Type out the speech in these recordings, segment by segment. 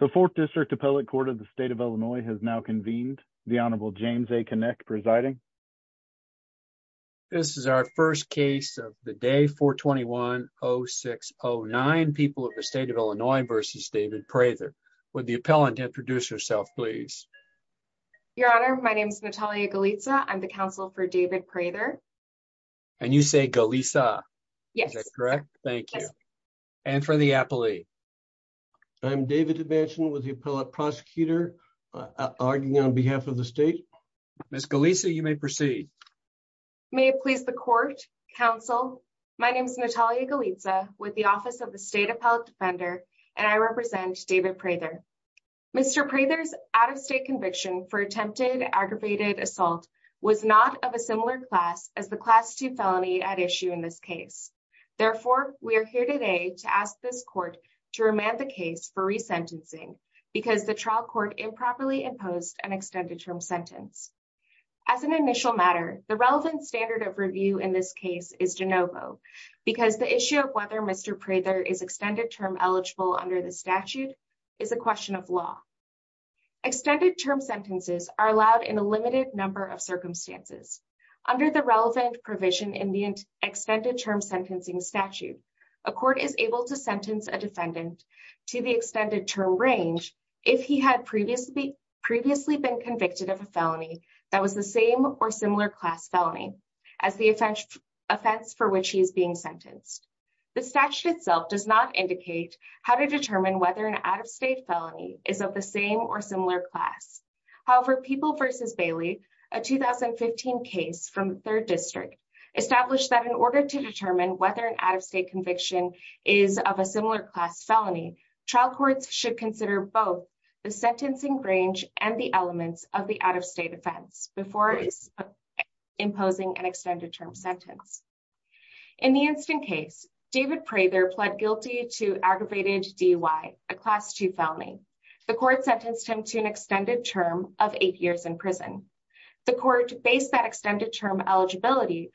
The 4th District Appellate Court of the State of Illinois has now convened. The Honorable James A. Knecht presiding. This is our first case of the day, 421-0609, People of the State of Illinois v. David Prather. Would the appellant introduce herself, please? Your Honor, my name is Natalia Golitsa. I'm the counsel for David Prather. And you say Golitsa? Yes. Is that correct? Thank you. And for the appellee? I'm David DeManchin with the appellate prosecutor, arguing on behalf of the state. Ms. Golitsa, you may proceed. May it please the court, counsel. My name is Natalia Golitsa with the Office of the State Appellate Defender, and I represent David Prather. Mr. Prather's out-of-state conviction for attempted aggravated assault was not of a similar class as the Class 2 felony at issue in this case. Therefore, we are here today to ask this court to remand the case for resentencing because the trial court improperly imposed an extended-term sentence. As an initial matter, the relevant standard of review in this case is de novo, because the issue of whether Mr. Prather is extended-term eligible under the statute is a question of law. Extended-term sentences are allowed in a limited number of circumstances. Under the relevant provision in the extended-term sentencing statute, a court is able to sentence a defendant to the extended-term range if he had previously been convicted of a felony that was the same or similar class felony as the offense for which he is being sentenced. The statute itself does not indicate how to determine whether an out-of-state felony is of the same or similar class. However, People v. Bailey, a 2015 case from the 3rd District, established that in order to determine whether an out-of-state conviction is of a similar class felony, trial courts should consider both the sentencing range and the elements of the out-of-state offense before imposing an extended-term sentence. In the instant case, David Prather pled guilty to aggravated DUI, a Class 2 felony. The court sentenced him to an extended term of 8 years in prison. The court based that extended-term eligibility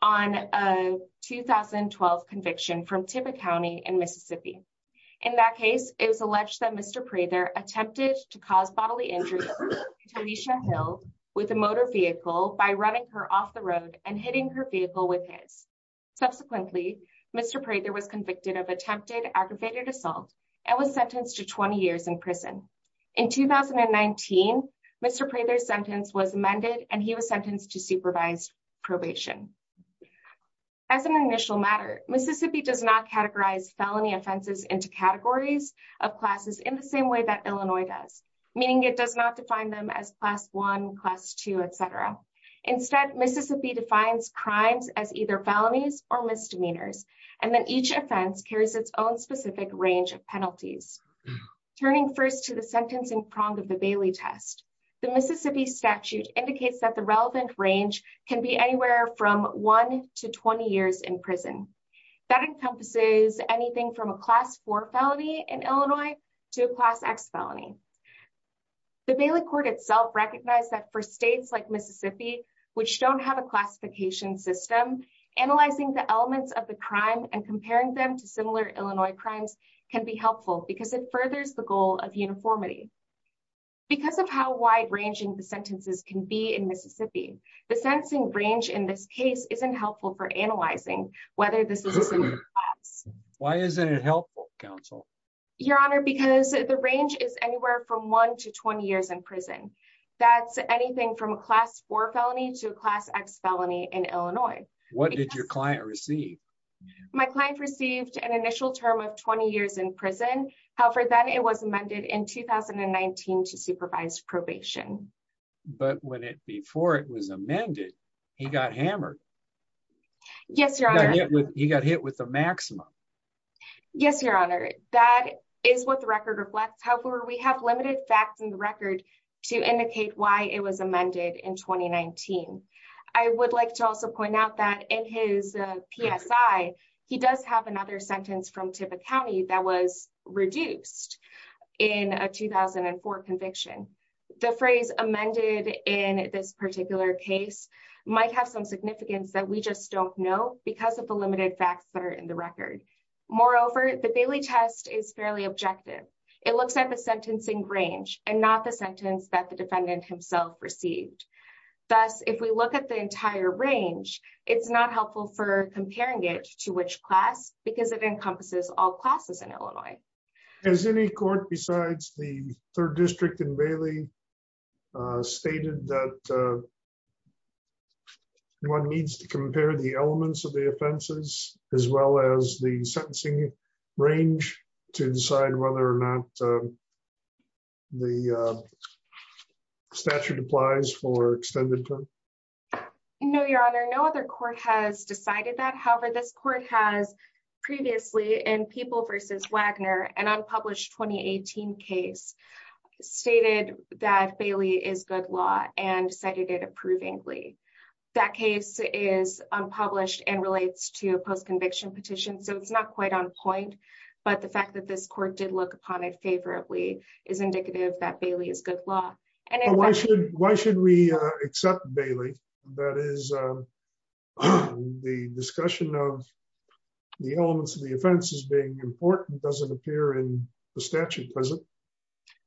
on a 2012 conviction from Tippecanoe in Mississippi. In that case, it was alleged that Mr. Prather attempted to cause bodily injury to Tanisha Hill with a motor vehicle by running her off the road and hitting her vehicle with his. Subsequently, Mr. Prather was convicted of attempted aggravated assault and was sentenced to 20 years in prison. In 2019, Mr. Prather's sentence was amended and he was sentenced to supervised probation. As an initial matter, Mississippi does not categorize felony offenses into categories of classes in the same way that Illinois does, meaning it does not define them as Class 1, Class 2, etc. Instead, Mississippi defines crimes as either felonies or misdemeanors, and then each offense carries its own specific range of penalties. Turning first to the sentencing prong of the Bailey test, the Mississippi statute indicates that the relevant range can be anywhere from 1 to 20 years in prison. That encompasses anything from a Class 4 felony in Illinois to a Class X felony. The Bailey court itself recognized that for states like Mississippi, which don't have a classification system, analyzing the elements of the crime and comparing them to similar Illinois crimes can be helpful because it furthers the goal of uniformity. Because of how wide-ranging the sentences can be in Mississippi, the sentencing range in this case isn't helpful for analyzing whether this is a similar class. Why isn't it helpful, counsel? Your Honor, because the range is anywhere from 1 to 20 years in prison. That's anything from a Class 4 felony to a Class X felony in Illinois. What did your client receive? My client received an initial term of 20 years in prison. However, then it was amended in 2019 to supervise probation. But before it was amended, he got hammered. Yes, Your Honor. He got hit with the maximum. Yes, Your Honor. That is what the record reflects. We have limited facts in the record to indicate why it was amended in 2019. I would like to also point out that in his PSI, he does have another sentence from Tippecanoe that was reduced in a 2004 conviction. The phrase amended in this particular case might have some significance that we just don't know because of the limited facts that are in the record. Moreover, the Bailey test is fairly objective. It looks at the sentencing range and not the sentence that the defendant himself received. Thus, if we look at the entire range, it's not helpful for comparing it to which class because it encompasses all classes in Illinois. Has any court besides the 3rd District in Bailey stated that one needs to compare the elements of the offenses as well as the sentencing range to decide whether or not the statute applies for extended term? No, Your Honor. No other court has decided that. However, this court has previously in People v. Wagner, an unpublished 2018 case, stated that Bailey is good law and cited it approvingly. That case is unpublished and relates to a post-conviction petition, so it's not quite on that this court did look upon it favorably is indicative that Bailey is good law. Why should we accept Bailey? That is, the discussion of the elements of the offenses being important doesn't appear in the statute, does it?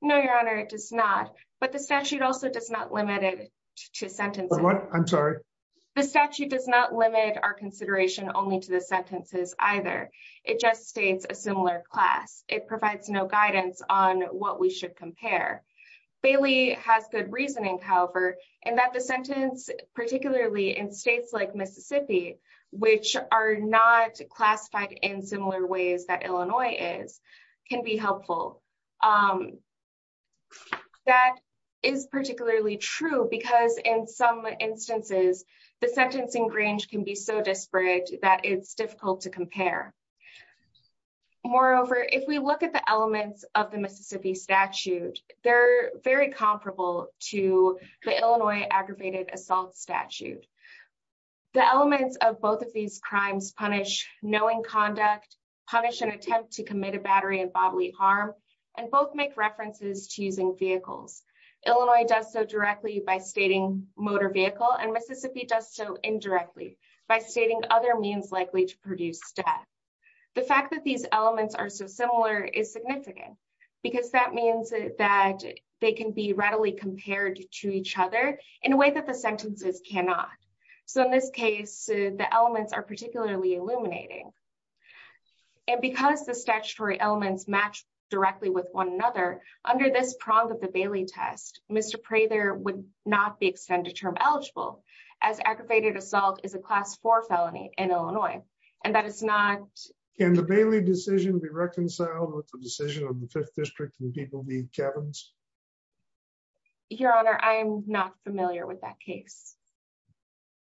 No, Your Honor, it does not. But the statute also does not limit it to sentencing. I'm sorry? The statute does not limit our consideration only to the sentences either. It just states a similar class. It provides no guidance on what we should compare. Bailey has good reasoning, however, and that the sentence, particularly in states like Mississippi, which are not classified in similar ways that Illinois is, can be helpful. That is particularly true because in some instances, the sentencing range can be so disparate that it's difficult to compare. Moreover, if we look at the elements of the Mississippi statute, they're very comparable to the Illinois aggravated assault statute. The elements of both of these crimes punish knowing conduct, punish an attempt to commit a battery and bodily harm, and both make references to using vehicles. Illinois does so directly by stating motor vehicle, and Mississippi does so indirectly by stating other means likely to produce death. The fact that these elements are so similar is significant because that means that they can be readily compared to each other in a way that the sentences cannot. So, in this case, the elements are particularly illuminating. And because the statutory elements match directly with one another, under this prong of the Bailey test, Mr. Prather would not be extended term eligible as aggravated assault is a class four felony in Illinois. And that is not. Can the Bailey decision be reconciled with the decision of the fifth district and people the cabins? Your honor, I'm not familiar with that case.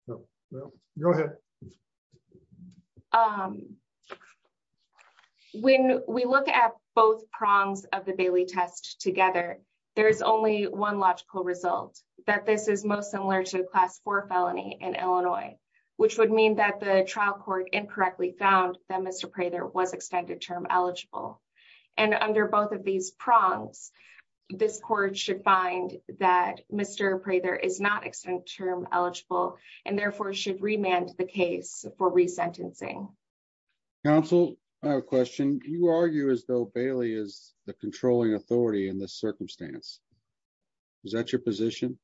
No, no, go ahead. When we look at both prongs of the Bailey test together, there's only one logical result that this is most similar to a class four felony in Illinois. Which would mean that the trial court incorrectly found that Mr Prather was extended term eligible. And under both of these prongs, this court should find that Mr Prather is not extended term eligible, and therefore should remand the case for resentencing. Counsel, I have a question. Do you argue as though Bailey is the controlling authority in this circumstance? Is that your position?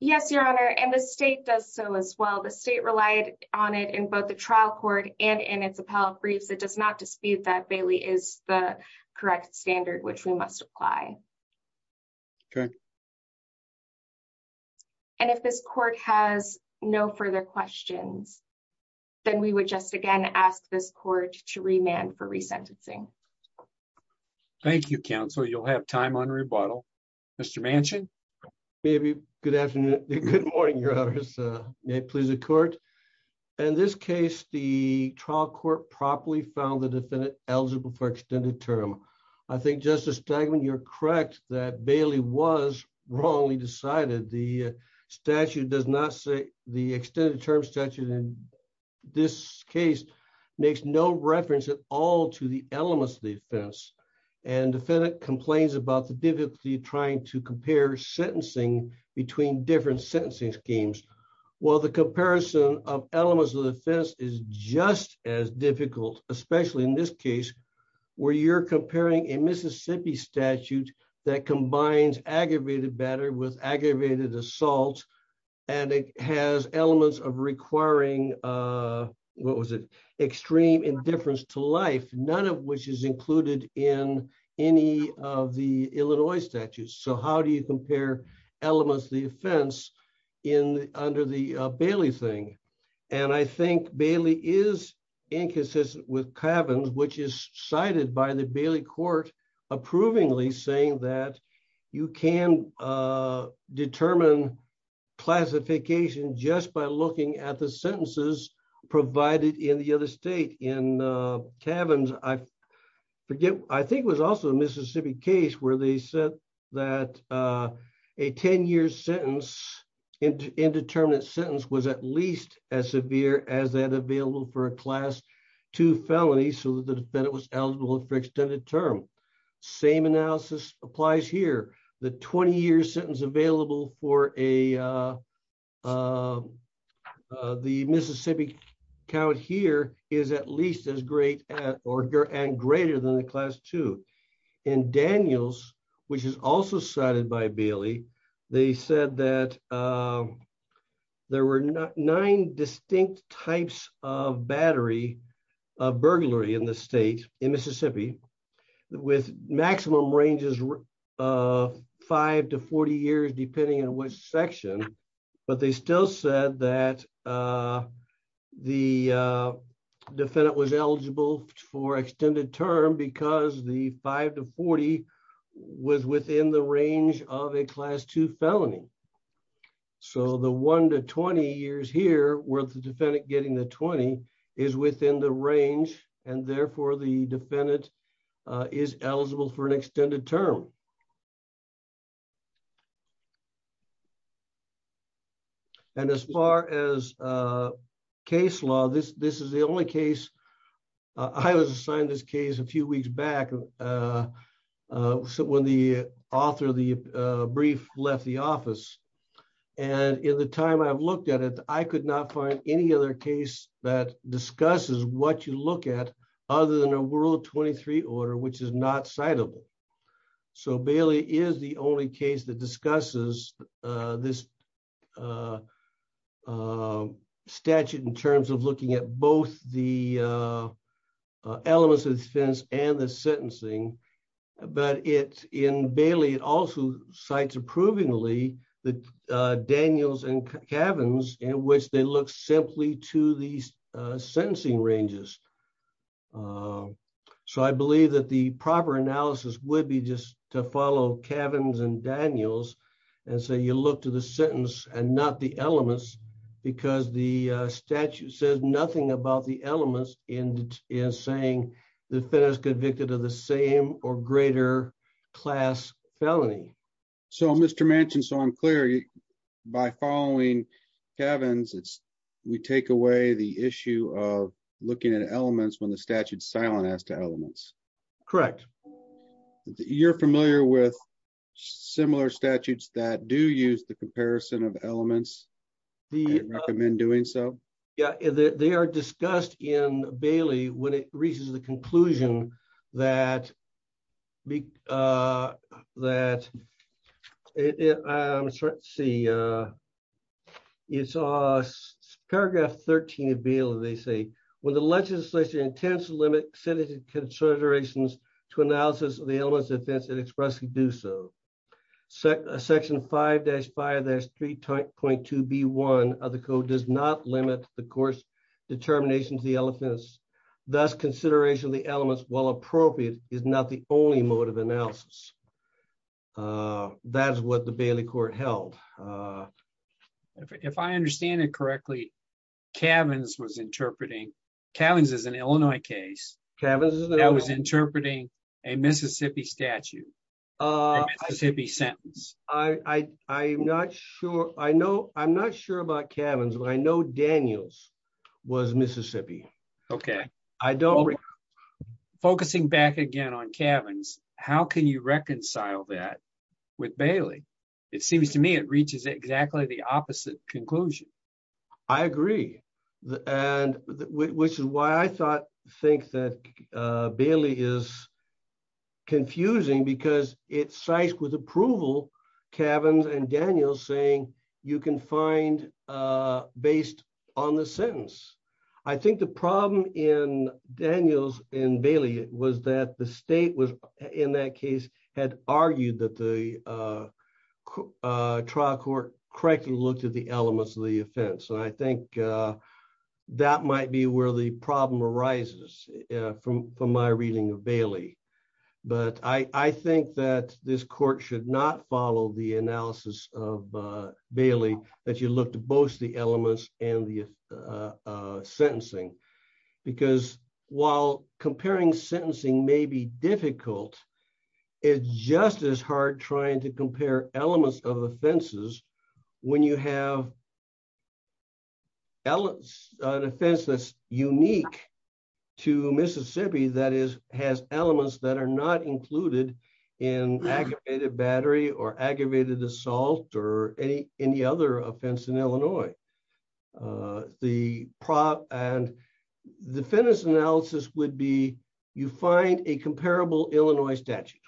Yes, your honor, and the state does so as well. The state relied on it in both the trial court and in its appellate briefs. It does not dispute that Bailey is the correct standard which we must apply. Okay. And if this court has no further questions, then we would just again ask this court to remand for resentencing. Thank you, counsel. You'll have time on rebuttal. Mr. Manchin. Maybe. Good afternoon. Good morning, your honors. May it please the court. In this case, the trial court properly found the defendant eligible for extended term. I think, Justice Stegman, you're correct that Bailey was wrongly decided. The statute does not say the extended term statute in this case makes no reference at all to the elements of the offense. And defendant complains about the difficulty trying to compare sentencing between different sentencing schemes. Well, the comparison of elements of the offense is just as difficult, especially in this case, where you're comparing a Mississippi statute that combines aggravated battery with aggravated assault, and it has elements of requiring, what was it, extreme indifference to life, none of which is included in any of the Illinois statutes. So how do you compare elements of the offense under the Bailey thing? And I think Bailey is inconsistent with Cavins, which is cited by the Bailey court approvingly saying that you can determine classification just by looking at the sentences provided in the other state. In Cavins, I forget, I think it was also a Mississippi case where they said that a 10 year sentence, indeterminate sentence, was at least as severe as that available for a class 2 felony so that the defendant was eligible for extended term. Same analysis applies here. The 20 year sentence available for the Mississippi count here is at least as great and greater than the class 2. In Daniels, which is also cited by Bailey, they said that there were nine distinct types of battery, of burglary in the state, in Mississippi, with maximum ranges of 5 to 40 years depending on which section, but they still said that the defendant was eligible for extended term because the 5 to 40 was within the range of a class 2 felony. So the 1 to 20 years here, where the defendant getting the 20, is within the range, and therefore the defendant is eligible for an extended term. And as far as case law, this is the only case, I was assigned this case a few weeks back when the author of the brief left the office, and in the time I've looked at it, I could not find any other case that discusses what you look at other than a World 23 order, which is not citable. So Bailey is the only case that discusses this statute in terms of looking at both the elements of the defense and the sentencing, but in Bailey it also cites approvingly Daniels and Cavins, in which they look simply to the sentencing ranges. So I believe that the proper analysis would be just to follow Cavins and Daniels, and so you look to the sentence and not the elements, because the statute says nothing about the defendant is convicted of the same or greater class felony. So Mr. Manchin, so I'm clear, by following Cavins, we take away the issue of looking at elements when the statute's silent as to elements. Correct. You're familiar with similar statutes that do use the comparison of elements? Do you recommend doing so? Yeah, they are discussed in Bailey when it reaches the conclusion that, let's see, it's paragraph 13 of Bailey, they say, when the legislature intends to limit citizen considerations to analysis of the elements of the defense, it expressly do so. Section 5-5-3.2b1 of the code does not limit the court's determination to the elements, thus consideration of the elements, while appropriate, is not the only mode of analysis. That's what the Bailey court held. If I understand it correctly, Cavins was interpreting, Cavins is an Illinois case, that was interpreting a Mississippi statute. A Mississippi sentence. I'm not sure, I know, I'm not sure about Cavins, but I know Daniels was Mississippi. Okay. Focusing back again on Cavins, how can you reconcile that with Bailey? It seems to me it reaches exactly the opposite conclusion. I agree. Which is why I think that Bailey is confusing because it cites with approval Cavins and Daniels saying you can find based on the sentence. I think the problem in Daniels and Bailey was that the state was in that case had argued that the trial court correctly looked at the elements of the offense. And I think that might be where the problem arises from my reading of Bailey. But I think that this court should not follow the analysis of Bailey, that you look to both the elements and the sentencing. Because while comparing sentencing may be difficult, it's just as hard trying to compare elements of offenses when you have an offense that's unique to Mississippi that has elements that are not included in aggravated battery or aggravated assault or any other offense in Illinois. The prop and the fitness analysis would be you find a comparable Illinois statute.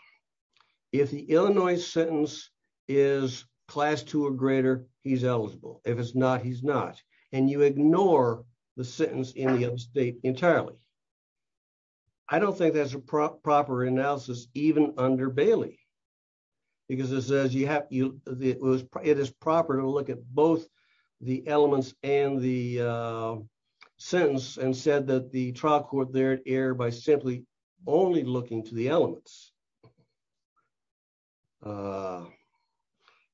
If the Illinois sentence is class two or greater, he's eligible. If it's not, he's not. And you ignore the sentence in the other state entirely. I don't think that's a proper analysis, even under Bailey. Because it says it is proper to look at both the elements and the sentence and said that the trial court there by simply only looking to the elements.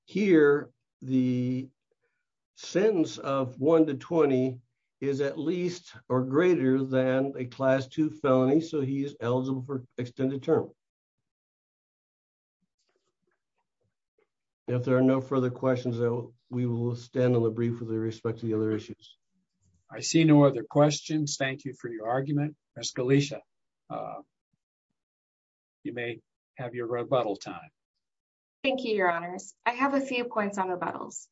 Here, the sentence of one to 20 is at least or greater than a class two felony. So he is eligible for extended term. If there are no further questions, though, we will stand on the brief with respect to the other issues. I see no other questions. Thank you for your argument. Ms. Galicia, you may have your rebuttal time. Thank you, Your Honors. I have a few points on rebuttals.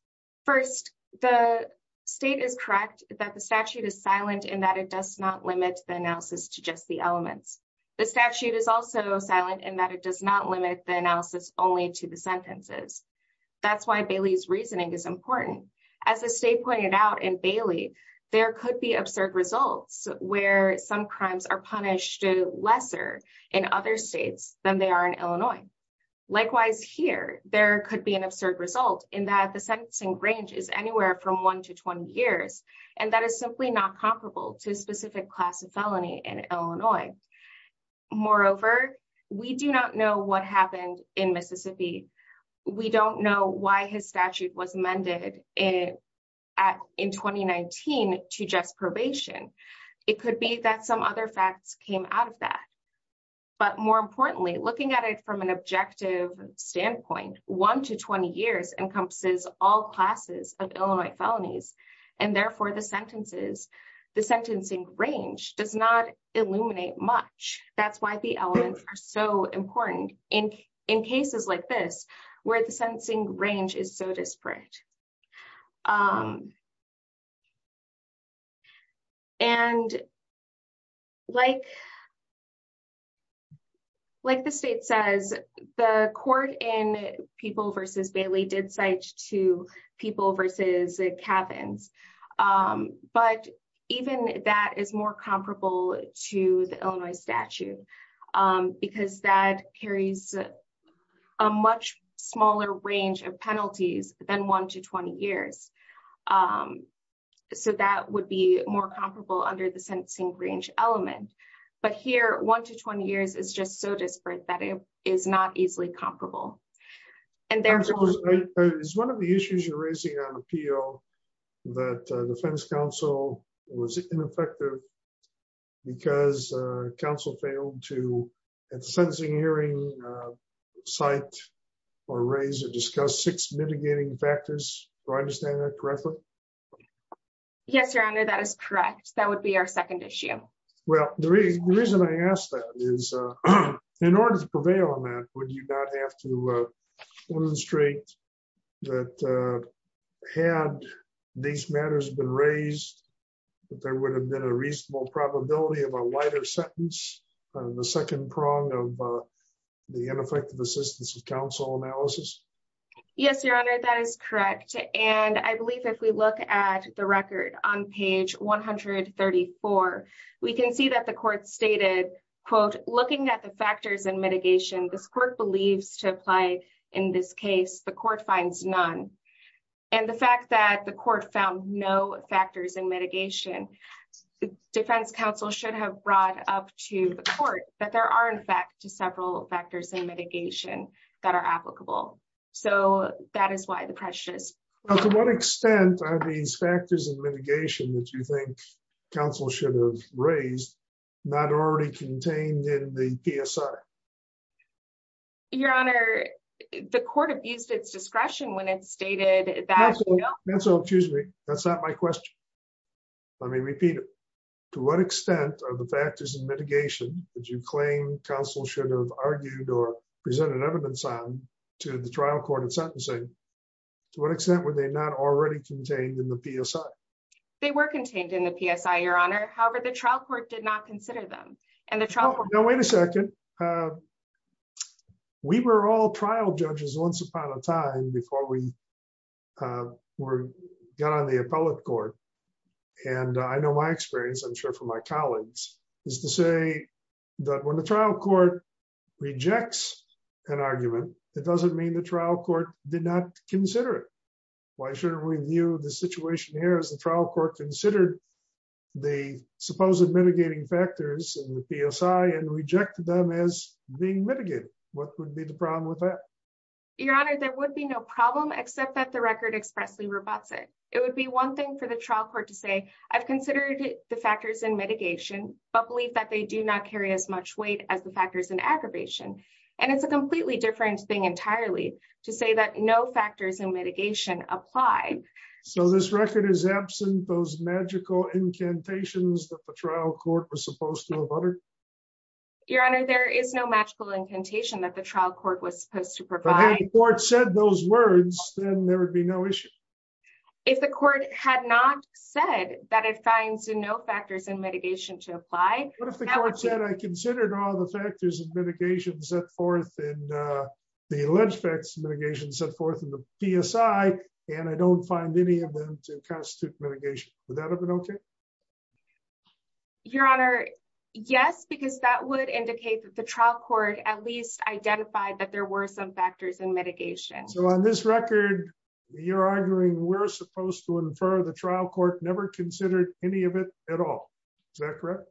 First, the state is correct that the statute is silent and that it does not limit the analysis to just the elements. The statute is also silent and that it does not limit the analysis only to the sentences. That's why Bailey's reasoning is important. As the state pointed out in Bailey, there could be absurd results where some crimes are punished lesser in other states than they are in Illinois. Likewise, here, there could be an absurd result in that the sentencing ranges anywhere from one to 20 years. And that is simply not comparable to a specific class of felony in Illinois. Moreover, we do not know what happened in Mississippi. We don't know why his statute was amended in 2019 to just probation. It could be that some other facts came out of that. But more importantly, looking at it from an objective standpoint, one to 20 years encompasses all classes of Illinois felonies. And therefore, the sentences, the sentencing range does not illuminate much. That's why the elements are so important in cases like this where the sentencing range is so disparate. And like the state says, the court in People v. Bailey did cite two people versus cabins. But even that is more comparable to the Illinois statute because that carries a much smaller range of penalties than one to 20 years. So that would be more comparable under the sentencing range element. But here, one to 20 years is just so disparate that it is not easily comparable. And there is one of the issues you're raising on appeal that the defense counsel was ineffective because counsel failed to at the sentencing hearing site or raise or discuss six mitigating factors. Do I understand that correctly? Yes, your honor. That is correct. That would be our second issue. Well, the reason I ask that is in order to prevail on that, would you not have to illustrate that had these matters been raised, that there would have been a reasonable probability of a lighter sentence on the second prong of the ineffective assistance of counsel analysis? Yes, your honor. That is correct. And I believe if we look at the record on page 134, we can see that the court stated, quote, looking at the factors and mitigation, this court believes to apply in this case, the court finds none. And the fact that the court found no factors in mitigation, the defense counsel should have brought up to the court that there are, in fact, several factors in mitigation that are applicable. So that is why the pressure is. Well, to what extent are these factors and mitigation that you think counsel should have raised not already contained in the PSR? Your honor, the court abused its discretion when it stated that. That's all. Excuse me. That's not my question. Let me repeat it. To what extent are the factors and mitigation that you claim counsel should have argued or presented evidence on to the trial court of sentencing? To what extent were they not already contained in the PSR? They were contained in the PSR, your honor. However, the trial court did not consider them. And the trial court. Now, wait a second. We were all trial judges once upon a time before we got on the appellate court. And I know my experience, I'm sure for my colleagues, is to say that when the trial court rejects an argument, that doesn't mean the trial court did not consider it. Why should we view the situation here as the trial court considered the supposed mitigating factors in the PSI and rejected them as being mitigated? What would be the problem with that? Your honor, there would be no problem except that the record expressly rebuts it. It would be one thing for the trial court to say, I've considered the factors in mitigation, but believe that they do not carry as much weight as the factors in aggravation. And it's a completely different thing entirely to say that no factors in mitigation apply. So this record is absent those magical incantations that the trial court was supposed to have uttered? Your honor, there is no magical incantation that the trial court was supposed to provide. But if the court said those words, then there would be no issue. If the court had not said that it finds no factors in mitigation to apply. What if the court said, I considered all the factors of mitigation set forth in the alleged facts of mitigation set forth in the PSI, and I don't find any of them to constitute mitigation, would that have been okay? Your honor, yes, because that would indicate that the trial court at least identified that there were some factors in mitigation. So on this record, you're arguing we're supposed to infer the trial court never considered any of it at all, is that correct?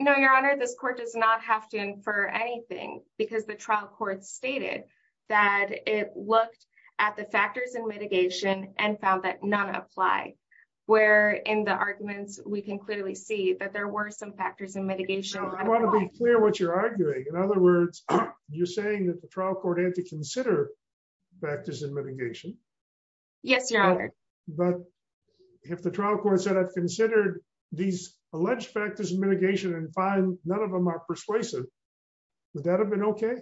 No, your honor, this court does not have to infer anything because the trial court stated that it looked at the factors in mitigation and found that none apply. Where in the arguments, we can clearly see that there were some factors in mitigation. I want to be clear what you're arguing. In other words, you're saying that the trial court had to consider factors in mitigation. Yes, your honor. But if the trial court said I've considered these alleged factors in mitigation and find none of them are persuasive, would that have been okay?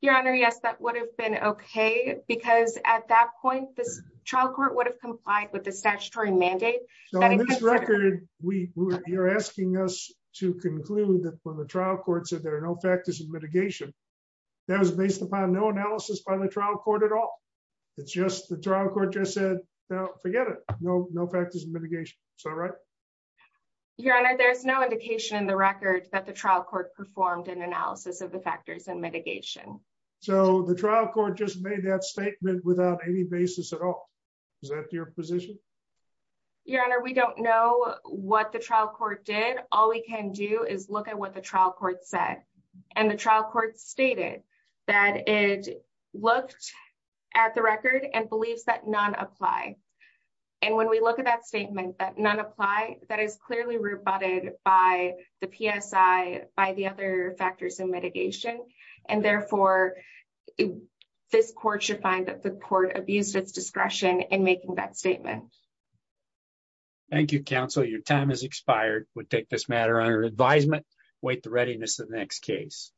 Your honor, yes, that would have been okay because at that point, this trial court would have complied with the statutory mandate. So on this record, you're asking us to conclude that when the trial court said there are no factors in mitigation, that was based upon no analysis by the trial court at all. It's just the trial court just said, forget it. No, no factors in mitigation. Is that right? Your honor, there's no indication in the record that the trial court performed an analysis of the factors in mitigation. So the trial court just made that statement without any basis at all. Is that your position? Your honor, we don't know what the trial court did. All we can do is look at what the trial court said and the trial court stated that it looked at the record and believes that none apply. And when we look at that statement, that none apply, that is clearly rebutted by the PSI, by the other factors in mitigation. And therefore, this court should find that the court abused its discretion in making that statement. Thank you, counsel. Your time has expired. We'll take this matter under advisement. Wait the readiness of the next case.